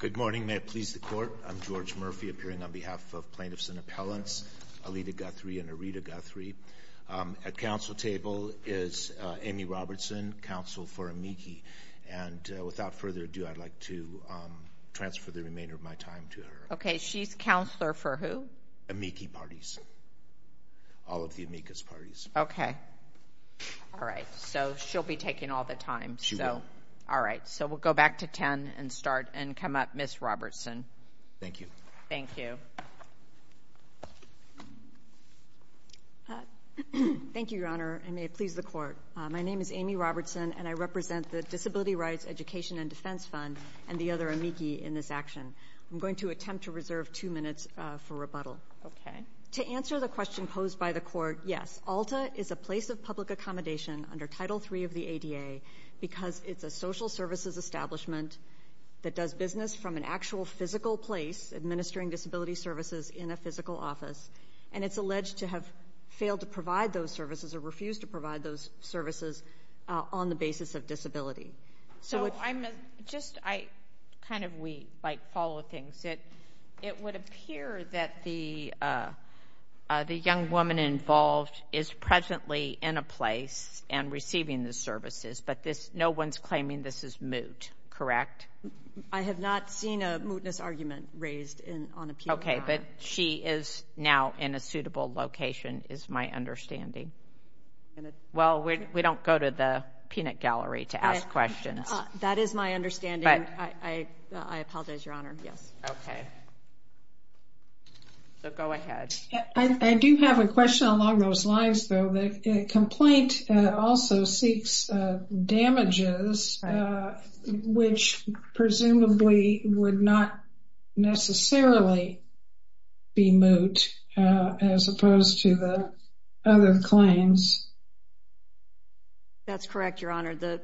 Good morning, may it please the Court. I'm George Murphy, appearing on behalf of Plaintiffs and Appellants Aleta Guthrie and Areta Guthrie. At Council table is Amy Robertson, Counsel for AMIKI. And without further ado, I'd like to transfer the remainder of my time to her. Okay, she's Counselor for who? AMIKI Parties. All of the AMIKA's Parties. Okay. Alright, so she'll be taking all the time. She will. Alright, so we'll go back to 10 and start and come up, Ms. Robertson. Thank you. Thank you. Thank you, Your Honor, and may it please the Court. My name is Amy Robertson, and I represent the Disability Rights Education and Defense Fund and the other AMIKI in this action. I'm going to attempt to reserve two minutes for rebuttal. Okay. To answer the question posed by the Court, yes, Alta is a place of public accommodation under Title III of the ADA because it's a social services establishment that does business from an actual physical place, administering disability services in a physical office, and it's alleged to have failed to provide those services or refused to provide those services on the basis of disability. So I'm just kind of we follow things. It would appear that the young woman involved is presently in a place and receiving the services, but no one's claiming this is moot, correct? I have not seen a mootness argument raised on appeal. Okay, but she is now in a suitable location is my understanding. Well, we don't go to the peanut gallery to ask questions. That is my understanding. I apologize, Your Honor. Yes. Okay. So go ahead. I do have a question along those lines, though. The complaint also seeks damages, which presumably would not necessarily be moot as opposed to the other claims. That's correct, Your Honor. The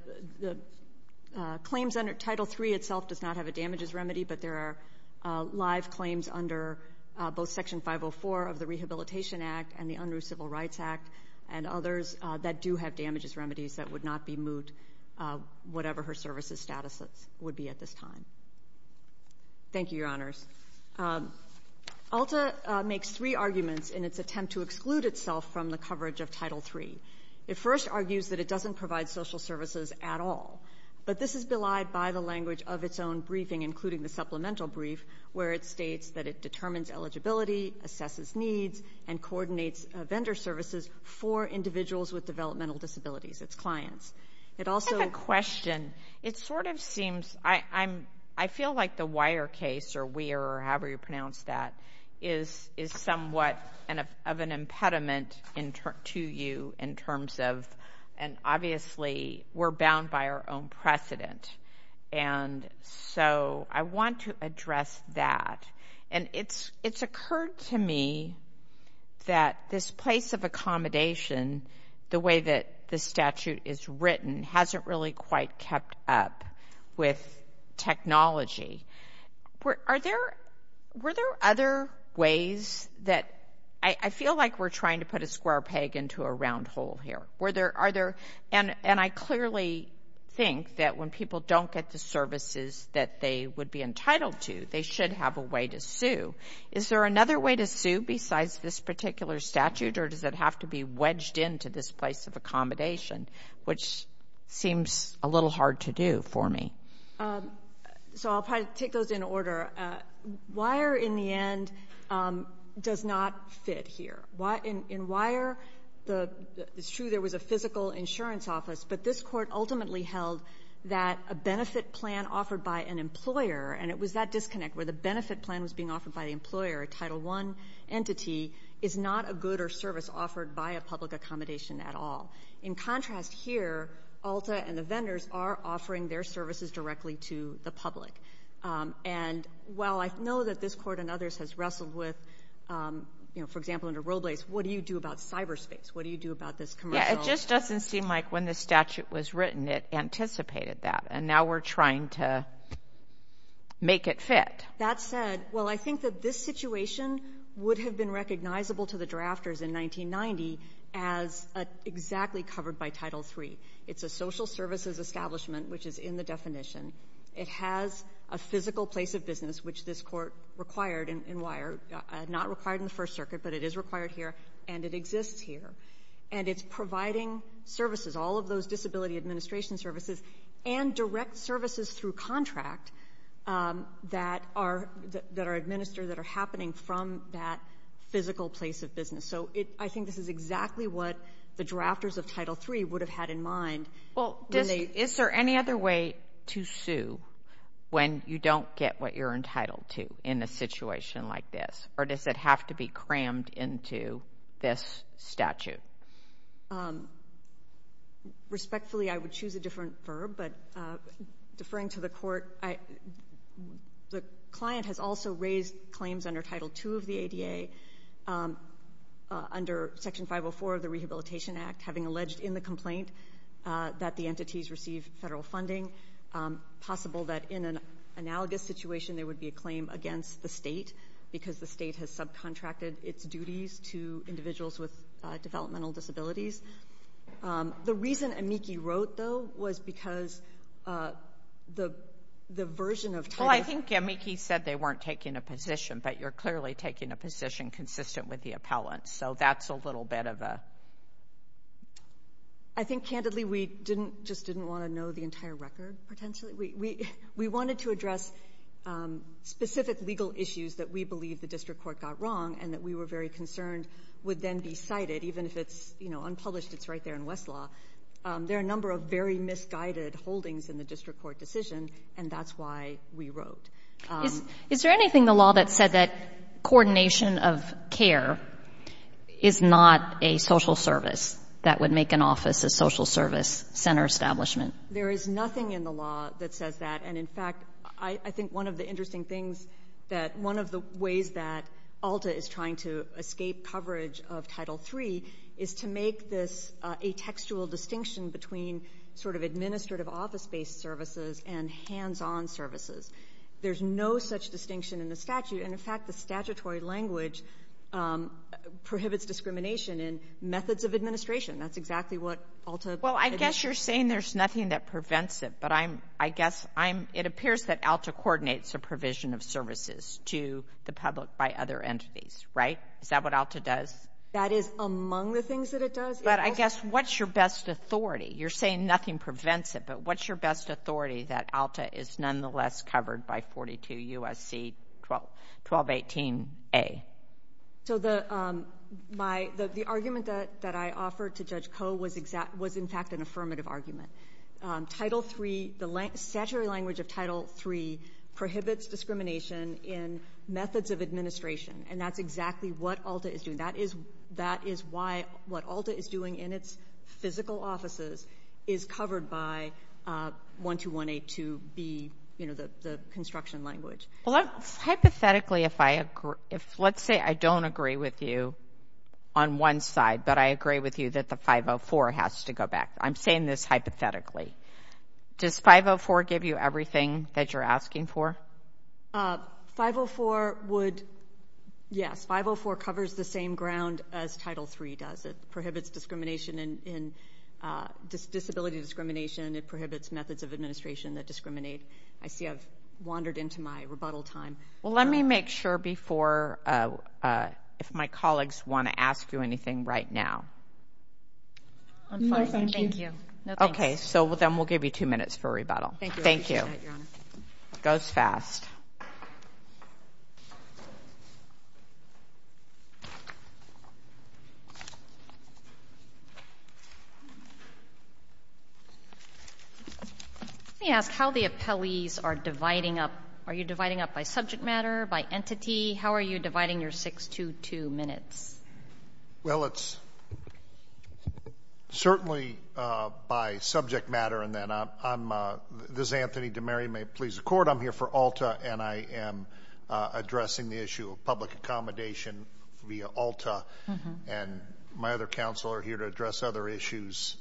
claims under Title III itself does not have a damages remedy, but there are live claims under both Section 504 of the Rehabilitation Act and the Unruh Civil Rights Act and others that do have damages remedies that would not be moot, whatever her services status would be at this time. Thank you, Your Honors. ULTA makes three arguments in its attempt to exclude itself from the coverage of Title III. It first argues that it doesn't provide social services at all, but this is belied by the language of its own briefing, including the supplemental brief, where it states that it determines eligibility, assesses needs, and coordinates vendor services for individuals with developmental disabilities, its clients. I have a question. It sort of seems I feel like the wire case, or weir, or however you pronounce that, is somewhat of an impediment to you in terms of, and obviously we're bound by our own precedent. And so I want to address that. And it's occurred to me that this place of accommodation, the way that the statute is written, hasn't really quite kept up with technology. Were there other ways that I feel like we're trying to put a square peg into a round hole here? And I clearly think that when people don't get the services that they would be entitled to, they should have a way to sue. Is there another way to sue besides this particular statute, or does it have to be wedged into this place of accommodation, which seems a little hard to do for me? So I'll take those in order. Weir, in the end, does not fit here. In Weir, it's true there was a physical insurance office, but this court ultimately held that a benefit plan offered by an employer, and it was that disconnect where the benefit plan was being offered by the employer, a Title I entity, is not a good or service offered by a public accommodation at all. In contrast here, Alta and the vendors are offering their services directly to the public. And while I know that this court and others has wrestled with, for example, under Robles, what do you do about cyberspace? What do you do about this commercial? Yeah, it just doesn't seem like when the statute was written it anticipated that, and now we're trying to make it fit. That said, well, I think that this situation would have been recognizable to the drafters in 1990 as exactly covered by Title III. It's a social services establishment, which is in the definition. It has a physical place of business, which this court required in Weir, not required in the First Circuit, but it is required here, and it exists here. And it's providing services, all of those disability administration services, and direct services through contract that are administered, that are happening from that physical place of business. So I think this is exactly what the drafters of Title III would have had in mind. Is there any other way to sue when you don't get what you're entitled to in a situation like this, or does it have to be crammed into this statute? Respectfully, I would choose a different verb, but deferring to the court, the client has also raised claims under Title II of the ADA, under Section 504 of the Rehabilitation Act, having alleged in the complaint that the entities receive federal funding, possible that in an analogous situation there would be a claim against the state, because the state has subcontracted its duties to individuals with developmental disabilities. The reason Amiki wrote, though, was because the version of Title... Well, I think Amiki said they weren't taking a position, but you're clearly taking a position consistent with the appellant. So that's a little bit of a... I think, candidly, we just didn't want to know the entire record, potentially. We wanted to address specific legal issues that we believe the district court got wrong and that we were very concerned would then be cited, even if it's unpublished, it's right there in Westlaw. There are a number of very misguided holdings in the district court decision, and that's why we wrote. Is there anything in the law that said that coordination of care is not a social service that would make an office a social service center establishment? There is nothing in the law that says that, and, in fact, I think one of the interesting things is that one of the ways that ALTA is trying to escape coverage of Title III is to make this a textual distinction between sort of administrative office-based services and hands-on services. There's no such distinction in the statute, and, in fact, the statutory language prohibits discrimination in methods of administration. That's exactly what ALTA... Well, I guess you're saying there's nothing that prevents it, but I guess it appears that ALTA coordinates a provision of services to the public by other entities, right? Is that what ALTA does? That is among the things that it does. But I guess what's your best authority? You're saying nothing prevents it, but what's your best authority that ALTA is nonetheless covered by 42 U.S.C. 1218A? So the argument that I offered to Judge Koh was, in fact, an affirmative argument. Title III, the statutory language of Title III, prohibits discrimination in methods of administration, and that's exactly what ALTA is doing. That is why what ALTA is doing in its physical offices is covered by 12182B, you know, the construction language. Well, hypothetically, if I agree... Let's say I don't agree with you on one side, but I agree with you that the 504 has to go back. I'm saying this hypothetically. Does 504 give you everything that you're asking for? 504 would, yes. 504 covers the same ground as Title III does. It prohibits disability discrimination. It prohibits methods of administration that discriminate. I see I've wandered into my rebuttal time. Well, let me make sure before, if my colleagues want to ask you anything right now. No, thank you. Okay, so then we'll give you 2 minutes for rebuttal. Thank you. It goes fast. Let me ask how the appellees are dividing up. Are you dividing up by subject matter, by entity? How are you dividing your 6-2-2 minutes? Well, it's certainly by subject matter. This is Anthony DeMaria, may it please the Court. I'm here for ALTA, and I am addressing the issue of public accommodation via ALTA. And my other counsel are here to address other issues.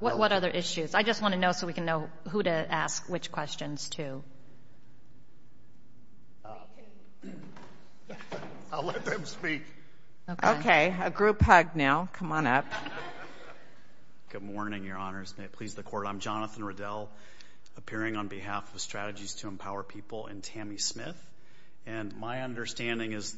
What other issues? I just want to know so we can know who to ask which questions to. I'll let them speak. Okay, a group hug now. Come on up. Good morning, Your Honors. May it please the Court. I'm Jonathan Riddell, appearing on behalf of Strategies to Empower People and Tammy Smith. And my understanding is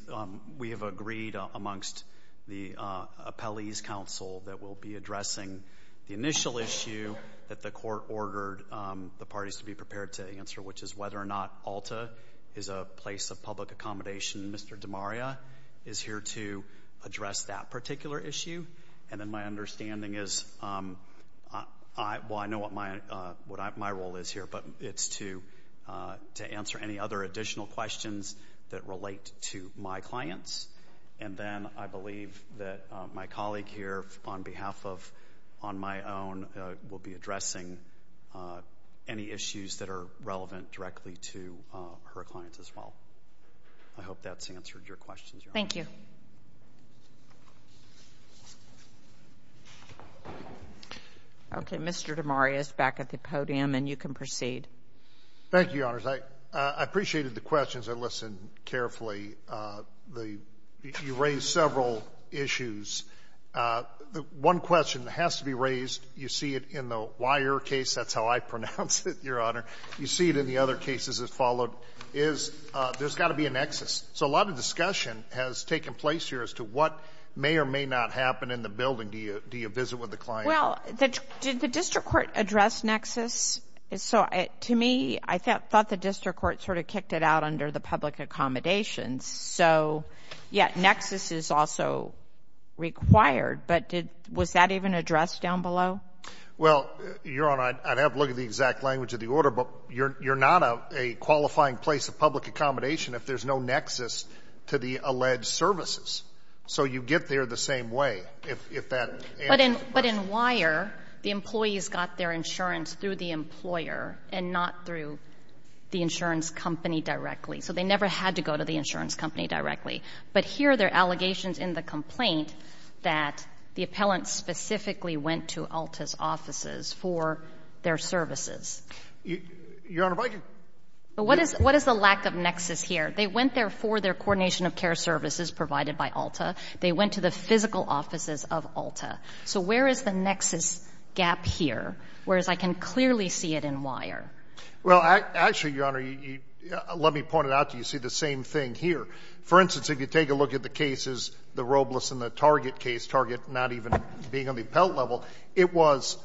we have agreed amongst the appellees' counsel that we'll be addressing the initial issue that the Court ordered the parties to be prepared to answer, which is whether or not ALTA is a place of public accommodation. Mr. DeMaria is here to address that particular issue. And then my understanding is, well, I know what my role is here, but it's to answer any other additional questions that relate to my clients. And then I believe that my colleague here, on behalf of on my own, will be addressing any issues that are relevant directly to her clients as well. I hope that's answered your questions, Your Honors. Thank you. Okay, Mr. DeMaria is back at the podium, and you can proceed. Thank you, Your Honors. I appreciated the questions. I listened carefully. You raised several issues. One question has to be raised. You see it in the Weyer case. That's how I pronounce it, Your Honor. You see it in the other cases that followed, is there's got to be a nexus. So a lot of discussion has taken place here as to what may or may not happen in the building. Do you visit with the client? Well, did the district court address nexus? To me, I thought the district court sort of kicked it out under the public accommodations. So, yeah, nexus is also required. But was that even addressed down below? Well, Your Honor, I'd have to look at the exact language of the order, but you're not a qualifying place of public accommodation if there's no nexus to the alleged services. So you get there the same way if that answers the question. But in Weyer, the employees got their insurance through the employer and not through the insurance company directly. So they never had to go to the insurance company directly. But here there are allegations in the complaint that the appellant specifically went to ALTA's offices for their services. Your Honor, if I could. What is the lack of nexus here? They went there for their coordination of care services provided by ALTA. They went to the physical offices of ALTA. So where is the nexus gap here, whereas I can clearly see it in Weyer? Well, actually, Your Honor, let me point it out to you. You see the same thing here. For instance, if you take a look at the cases, the Robles and the Target case, Target not even being on the appellant level, it was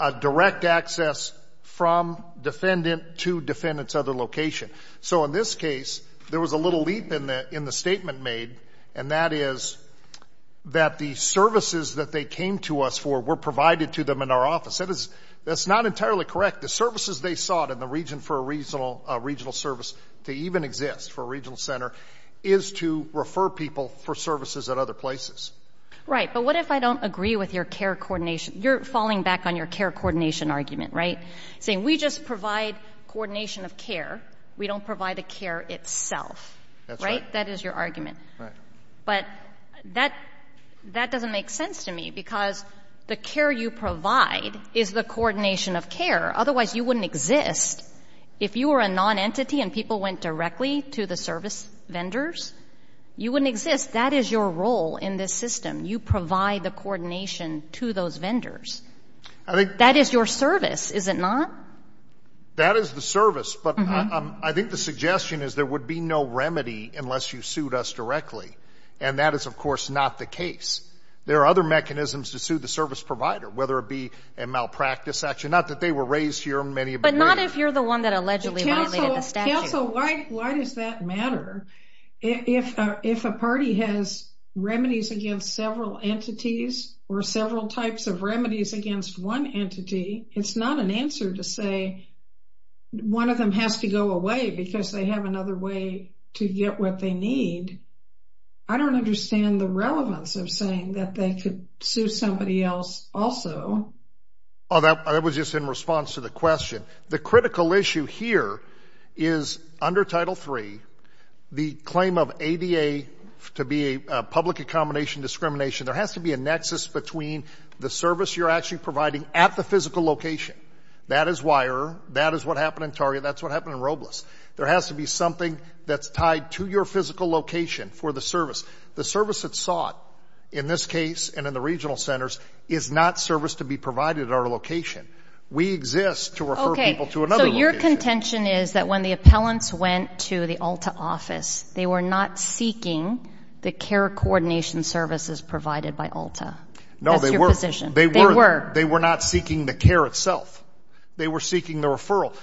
a direct access from defendant to defendant's other location. So in this case, there was a little leap in the statement made, and that is that the services that they came to us for were provided to them in our office. That's not entirely correct. The services they sought in the region for a regional service to even exist for a regional center is to refer people for services at other places. Right. But what if I don't agree with your care coordination? You're falling back on your care coordination argument, right? Saying we just provide coordination of care. We don't provide the care itself. That's right. Right? That is your argument. Right. But that doesn't make sense to me because the care you provide is the coordination of care. Otherwise, you wouldn't exist. If you were a nonentity and people went directly to the service vendors, you wouldn't exist. That is your role in this system. You provide the coordination to those vendors. That is your service, is it not? That is the service. But I think the suggestion is there would be no remedy unless you sued us directly, and that is, of course, not the case. There are other mechanisms to sue the service provider, whether it be a malpractice action, not that they were raised here in many of the areas. But not if you're the one that allegedly violated the statute. Counsel, why does that matter? If a party has remedies against several entities or several types of remedies against one entity, it's not an answer to say one of them has to go away because they have another way to get what they need. I don't understand the relevance of saying that they could sue somebody else also. That was just in response to the question. The critical issue here is under Title III, the claim of ADA to be a public accommodation discrimination, there has to be a nexus between the service you're actually providing at the physical location. That is wire, that is what happened in Target, that's what happened in Robles. There has to be something that's tied to your physical location for the service. The service that's sought in this case and in the regional centers is not service to be provided at our location. We exist to refer people to another location. Okay, so your contention is that when the appellants went to the ALTA office, they were not seeking the care coordination services provided by ALTA. No, they were. That's your position. They were. They were not seeking the care itself. They were seeking the referral.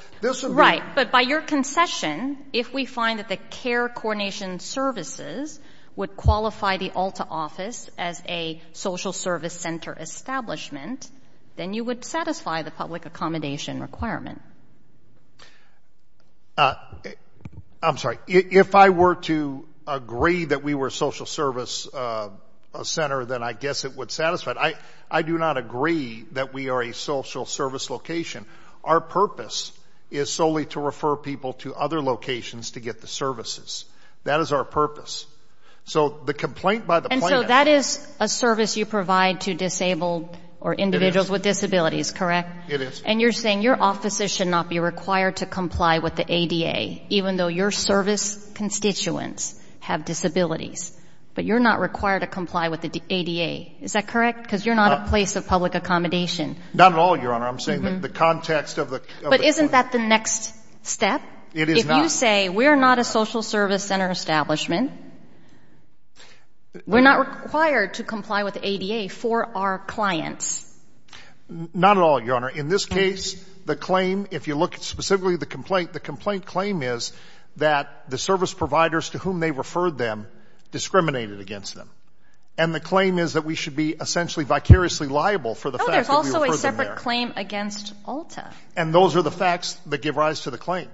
Right, but by your concession, if we find that the care coordination services would qualify the ALTA office as a social service center establishment, then you would satisfy the public accommodation requirement. I'm sorry. If I were to agree that we were a social service center, then I guess it would satisfy it. I do not agree that we are a social service location. Our purpose is solely to refer people to other locations to get the services. That is our purpose. So the complaint by the plaintiff. And so that is a service you provide to disabled or individuals with disabilities, correct? It is. And you're saying your offices should not be required to comply with the ADA, even though your service constituents have disabilities, but you're not required to comply with the ADA. Is that correct? Because you're not a place of public accommodation. Not at all, Your Honor. I'm saying the context of the complaint. But isn't that the next step? It is not. So you say we're not a social service center establishment. We're not required to comply with the ADA for our clients. Not at all, Your Honor. In this case, the claim, if you look specifically at the complaint, the complaint claim is that the service providers to whom they referred them discriminated against them. And the claim is that we should be essentially vicariously liable for the fact that we referred them there. No, there's also a separate claim against ALTA. And those are the facts that give rise to the claim.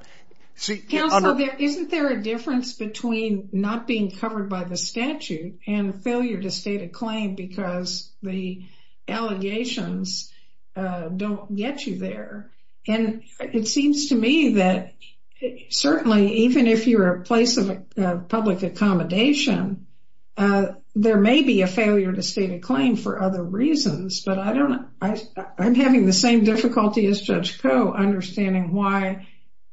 Counsel, isn't there a difference between not being covered by the statute and failure to state a claim because the allegations don't get you there? And it seems to me that certainly even if you're a place of public accommodation, there may be a failure to state a claim for other reasons. But I'm having the same difficulty as Judge Koh understanding why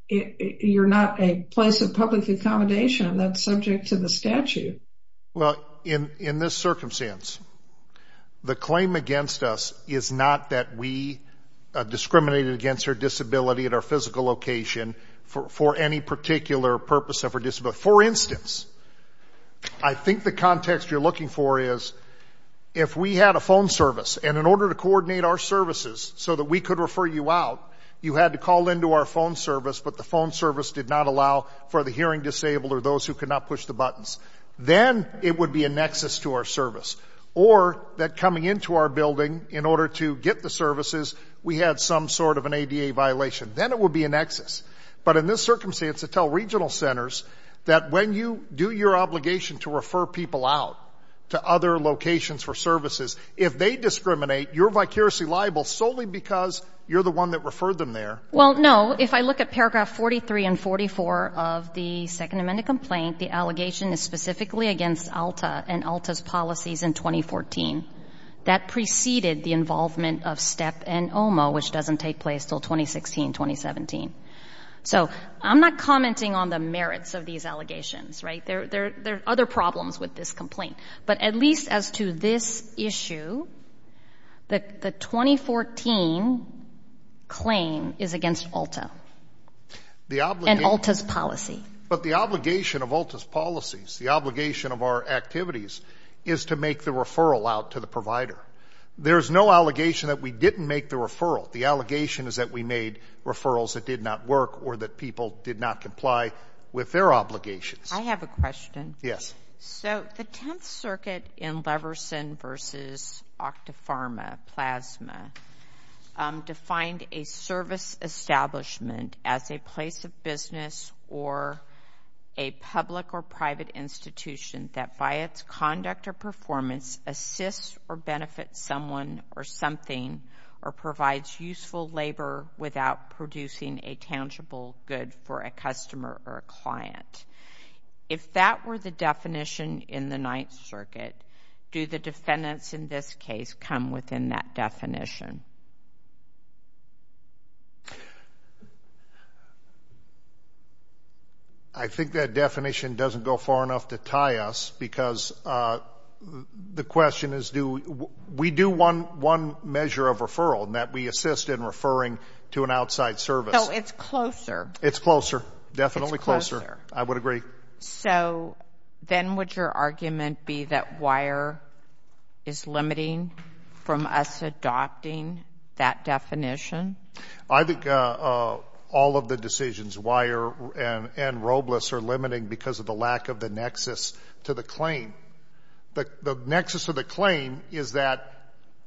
you're not a place of public accommodation that's subject to the statute. Well, in this circumstance, the claim against us is not that we discriminated against her disability at our physical location for any particular purpose of her disability. For instance, I think the context you're looking for is if we had a phone service and in order to coordinate our services so that we could refer you out, you had to call into our phone service, but the phone service did not allow for the hearing disabled or those who could not push the buttons. Then it would be a nexus to our service. Or that coming into our building in order to get the services, we had some sort of an ADA violation. Then it would be a nexus. But in this circumstance, it tells regional centers that when you do your obligation to refer people out to other locations for services, if they discriminate, you're vicariously liable solely because you're the one that referred them there. Well, no. If I look at paragraph 43 and 44 of the Second Amendment complaint, the allegation is specifically against ALTA and ALTA's policies in 2014. That preceded the involvement of STEP and OMA, which doesn't take place until 2016, 2017. So I'm not commenting on the merits of these allegations, right? There are other problems with this complaint. But at least as to this issue, the 2014 claim is against ALTA and ALTA's policy. But the obligation of ALTA's policies, the obligation of our activities, is to make the referral out to the provider. There's no allegation that we didn't make the referral. The allegation is that we made referrals that did not work or that people did not comply with their obligations. I have a question. Yes. So the Tenth Circuit in Leverson v. Octopharma, Plasma, defined a service establishment as a place of business or a public or private institution that by its conduct or performance assists or benefits someone or something or provides useful labor without producing a tangible good for a customer or a client. If that were the definition in the Ninth Circuit, do the defendants in this case come within that definition? I think that definition doesn't go far enough to tie us because the question is do we do one measure of referral and that we assist in referring to an outside service. So it's closer. It's closer, definitely closer. I would agree. So then would your argument be that WIRE is limiting from us adopting that definition? I think all of the decisions, WIRE and ROBLIS, are limiting because of the lack of the nexus to the claim. The nexus of the claim is that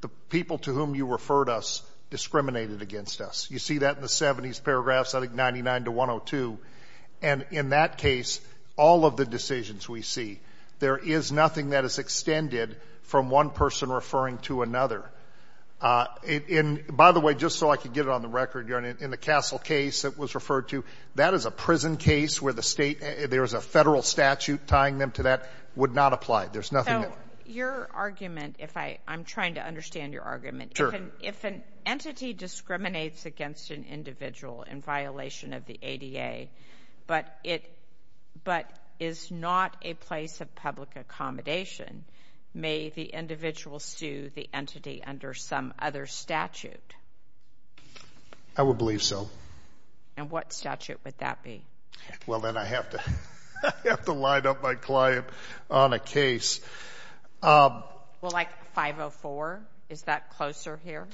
the people to whom you referred us discriminated against us. You see that in the 70s paragraphs, I think 99 to 102. And in that case, all of the decisions we see, there is nothing that is extended from one person referring to another. And by the way, just so I could get it on the record, in the Castle case that was referred to, that is a prison case where there is a federal statute tying them to that would not apply. There's nothing there. So your argument, I'm trying to understand your argument. Sure. So if an entity discriminates against an individual in violation of the ADA but is not a place of public accommodation, may the individual sue the entity under some other statute? I would believe so. And what statute would that be? Well, then I have to line up my client on a case. Well, like 504? Is that closer here?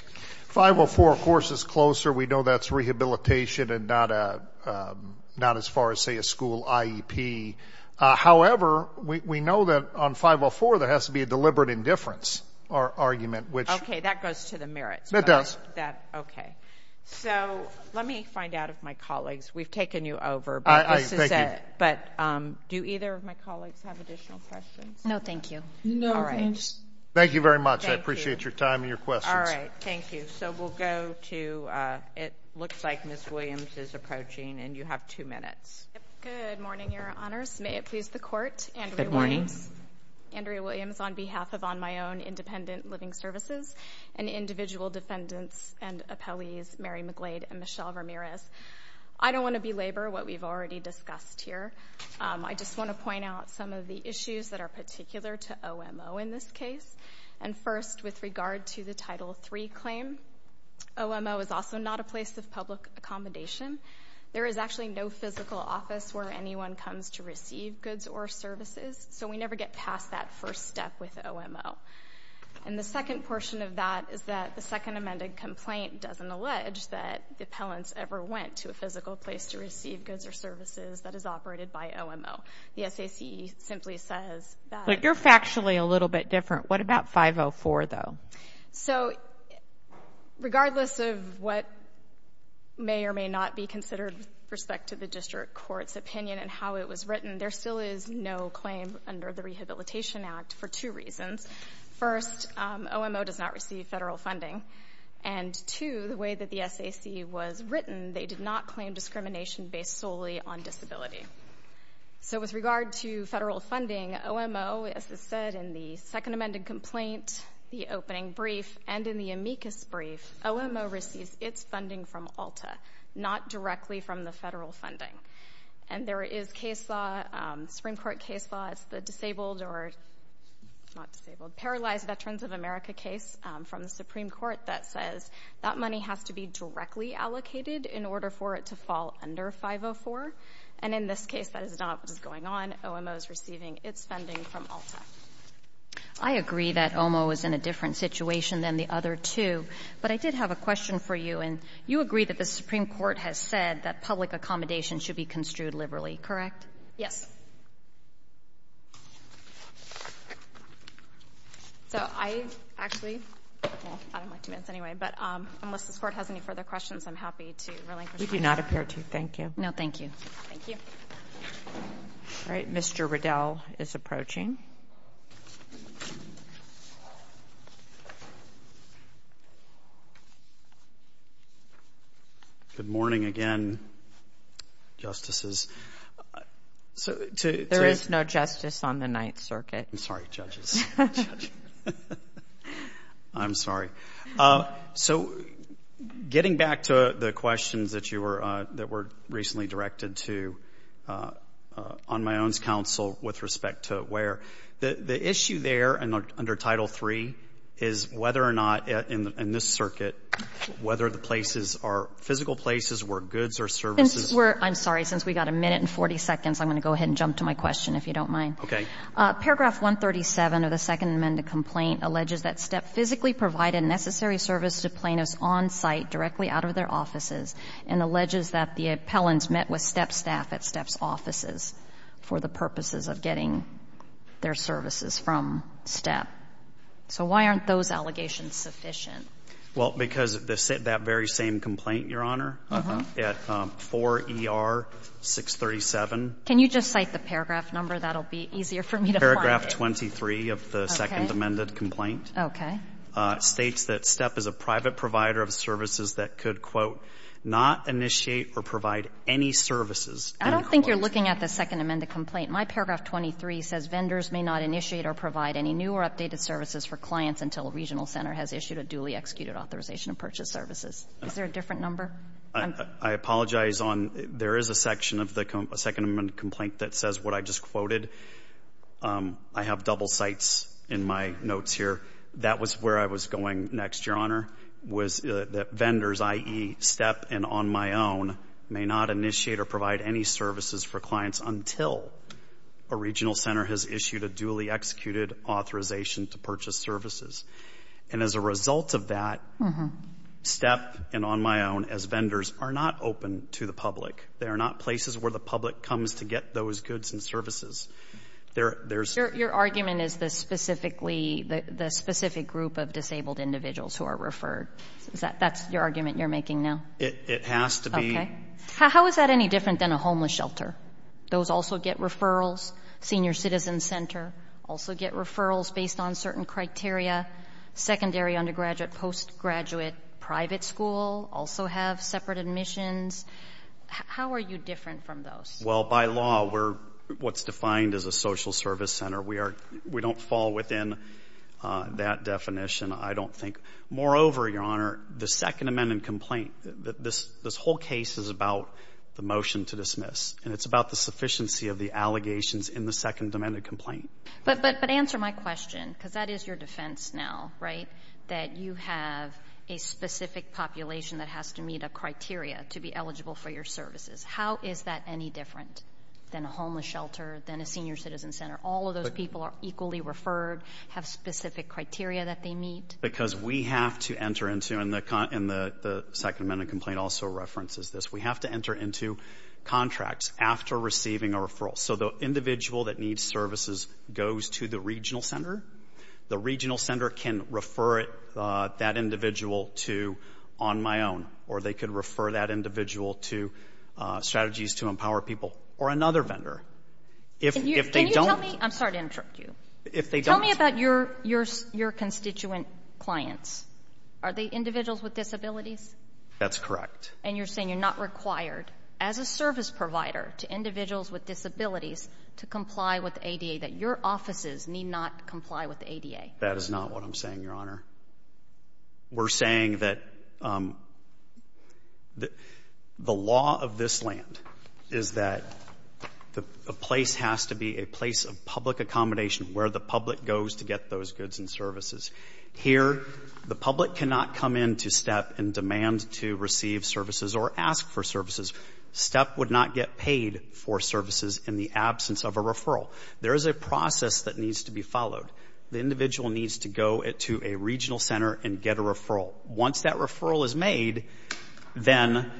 504, of course, is closer. We know that's rehabilitation and not as far as, say, a school IEP. However, we know that on 504 there has to be a deliberate indifference argument. Okay. That goes to the merits. It does. Okay. So let me find out if my colleagues, we've taken you over. Thank you. But do either of my colleagues have additional questions? No, thank you. No, thanks. Thank you very much. I appreciate your time and your questions. Thank you. So we'll go to, it looks like Ms. Williams is approaching, and you have two minutes. Good morning, Your Honors. May it please the Court. Andrea Williams. Good morning. Andrea Williams on behalf of On My Own Independent Living Services and individual defendants and appellees Mary McGlade and Michelle Ramirez. I don't want to belabor what we've already discussed here. I just want to point out some of the issues that are particular to OMO in this case. And first, with regard to the Title III claim, OMO is also not a place of public accommodation. There is actually no physical office where anyone comes to receive goods or services, so we never get past that first step with OMO. And the second portion of that is that the second amended complaint doesn't allege that the appellants ever went to a physical place to receive goods or services that is operated by OMO. The SAC simply says that. So you're factually a little bit different. What about 504, though? So regardless of what may or may not be considered with respect to the district court's opinion and how it was written, there still is no claim under the Rehabilitation Act for two reasons. First, OMO does not receive federal funding. And two, the way that the SAC was written, they did not claim discrimination based solely on disability. So with regard to federal funding, OMO, as was said in the second amended complaint, the opening brief, and in the amicus brief, OMO receives its funding from ALTA, not directly from the federal funding. And there is case law, Supreme Court case law, it's the disabled or not disabled, paralyzed Veterans of America case from the Supreme Court that says that money has to be directly allocated in order for it to fall under 504. And in this case, that is not what is going on. OMO is receiving its funding from ALTA. I agree that OMO is in a different situation than the other two. But I did have a question for you. And you agree that the Supreme Court has said that public accommodation should be construed liberally, correct? Yes. So I actually, well, I don't like two minutes anyway. But unless this Court has any further questions, I'm happy to relinquish. We do not appear to. Thank you. No, thank you. Thank you. All right. Mr. Riddell is approaching. Good morning again, Justices. There is no justice on the Ninth Circuit. I'm sorry, Judges. I'm sorry. So getting back to the questions that were recently directed to on my own counsel with respect to where, the issue there under Title III is whether or not in this circuit, whether the places are physical places where goods or services. I'm sorry. Since we've got a minute and 40 seconds, I'm going to go ahead and jump to my question, if you don't mind. Okay. Paragraph 137 of the Second Amendment complaint alleges that STEP physically provided necessary service to plaintiffs on site directly out of their offices, and alleges that the appellants met with STEP staff at STEP's offices for the purposes of getting their services from STEP. So why aren't those allegations sufficient? Well, because that very same complaint, Your Honor, at 4ER637. Can you just cite the paragraph number? That will be easier for me to find. Paragraph 23 of the Second Amendment complaint states that STEP is a private provider of services that could, quote, not initiate or provide any services. I don't think you're looking at the Second Amendment complaint. My paragraph 23 says vendors may not initiate or provide any new or updated services for clients until a regional center has issued a duly executed authorization to purchase services. Is there a different number? I apologize. There is a section of the Second Amendment complaint that says what I just quoted. I have double cites in my notes here. That was where I was going next, Your Honor, was that vendors, i.e., STEP and on my own, may not initiate or provide any services for clients until a regional center has issued a duly executed authorization to purchase services. And as a result of that, STEP and on my own as vendors are not open to the public. They are not places where the public comes to get those goods and services. Your argument is the specific group of disabled individuals who are referred. That's your argument you're making now? It has to be. Okay. How is that any different than a homeless shelter? Those also get referrals. Senior citizen center also get referrals based on certain criteria. Secondary undergraduate, postgraduate, private school also have separate admissions. How are you different from those? Well, by law, we're what's defined as a social service center. We don't fall within that definition, I don't think. Moreover, Your Honor, the Second Amendment complaint, this whole case is about the motion to dismiss, and it's about the sufficiency of the allegations in the Second Amendment complaint. But answer my question, because that is your defense now, right, that you have a specific population that has to meet a criteria to be eligible for your services. How is that any different than a homeless shelter, than a senior citizen center? All of those people are equally referred, have specific criteria that they meet. Because we have to enter into, and the Second Amendment complaint also references this, we have to enter into contracts after receiving a referral. So the individual that needs services goes to the regional center. The regional center can refer that individual to On My Own, or they could refer that individual to Strategies to Empower People or another vendor. If they don't. Can you tell me? I'm sorry to interrupt you. If they don't. Tell me about your constituent clients. Are they individuals with disabilities? That's correct. And you're saying you're not required as a service provider to individuals with disabilities to comply with ADA, that your offices need not comply with ADA. That is not what I'm saying, Your Honor. We're saying that the law of this land is that a place has to be a place of public accommodation where the public goes to get those goods and services. Here, the public cannot come into STEP and demand to receive services or ask for services. STEP would not get paid for services in the absence of a referral. There is a process that needs to be followed. The individual needs to go to a regional center and get a referral. Once that referral is made, then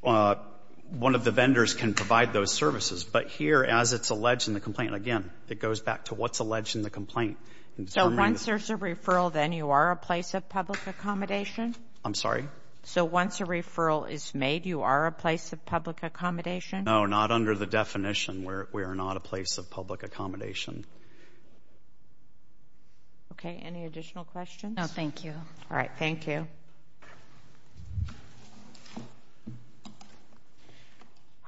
one of the vendors can provide those services. But here, as it's alleged in the complaint, again, it goes back to what's alleged in the complaint. So once there's a referral, then you are a place of public accommodation? I'm sorry? So once a referral is made, you are a place of public accommodation? No, not under the definition. We are not a place of public accommodation. Okay. Any additional questions? No, thank you. All right. Thank you. All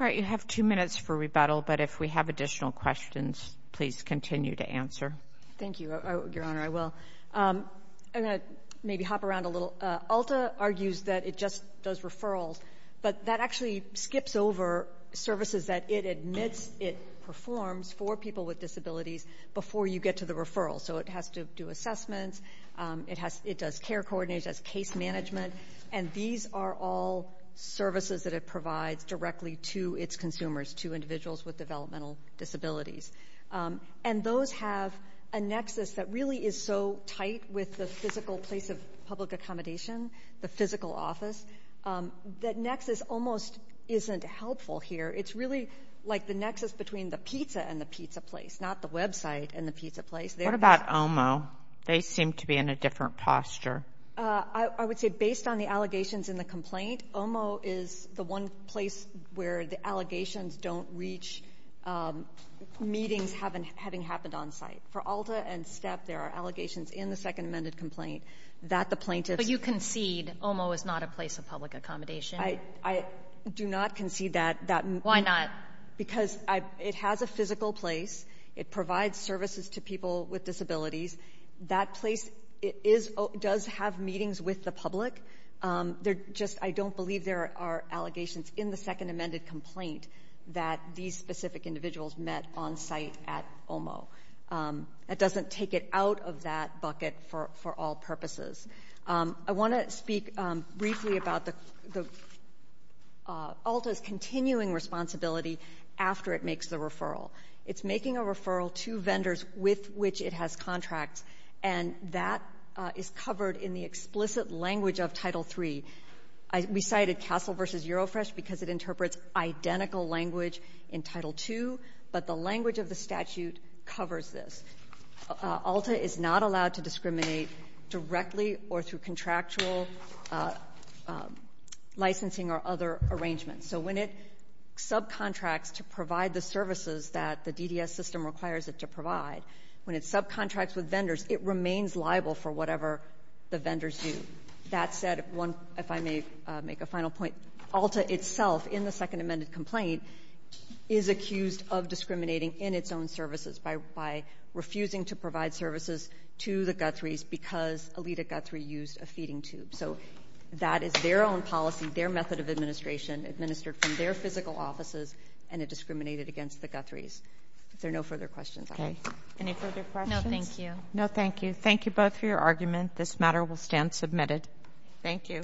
right. You have two minutes for rebuttal, but if we have additional questions, please continue to answer. Thank you, Your Honor. I will. I'm going to maybe hop around a little. ULTA argues that it just does referrals, but that actually skips over services that it admits it performs for people with disabilities before you get to the referral. So it has to do assessments. It does care coordination. It does case management. And these are all services that it provides directly to its consumers, to individuals with developmental disabilities. And those have a nexus that really is so tight with the physical place of public accommodation, the physical office, that nexus almost isn't helpful here. It's really like the nexus between the pizza and the pizza place, not the website and the pizza place. What about OMO? They seem to be in a different posture. I would say based on the allegations in the complaint, OMO is the one place where the allegations don't reach meetings having happened on site. For ULTA and STEP, there are allegations in the Second Amendment complaint that the plaintiff's But you concede OMO is not a place of public accommodation. I do not concede that. Why not? Because it has a physical place. It provides services to people with disabilities. That place does have meetings with the public. I don't believe there are allegations in the Second Amendment complaint that these specific individuals met on site at OMO. It doesn't take it out of that bucket for all purposes. I want to speak briefly about ULTA's continuing responsibility after it makes the referral. It's making a referral to vendors with which it has contracts, and that is covered in the explicit language of Title III. We cited Castle v. Eurofresh because it interprets identical language in Title II, but the language of the statute covers this. ULTA is not allowed to discriminate directly or through contractual licensing or other arrangements. So when it subcontracts to provide the services that the DDS system requires it to provide, when it subcontracts with vendors, it remains liable for whatever the vendors do. That said, if I may make a final point, ULTA itself in the Second Amendment complaint is accused of discriminating in its own services by refusing to provide services to the Guthries because Alita Guthrie used a feeding tube. So that is their own policy, their method of administration, administered from their physical offices, and it discriminated against the Guthries. If there are no further questions, I'll close. Any further questions? No, thank you. No, thank you. Thank you both for your argument. This matter will stand submitted. Thank you.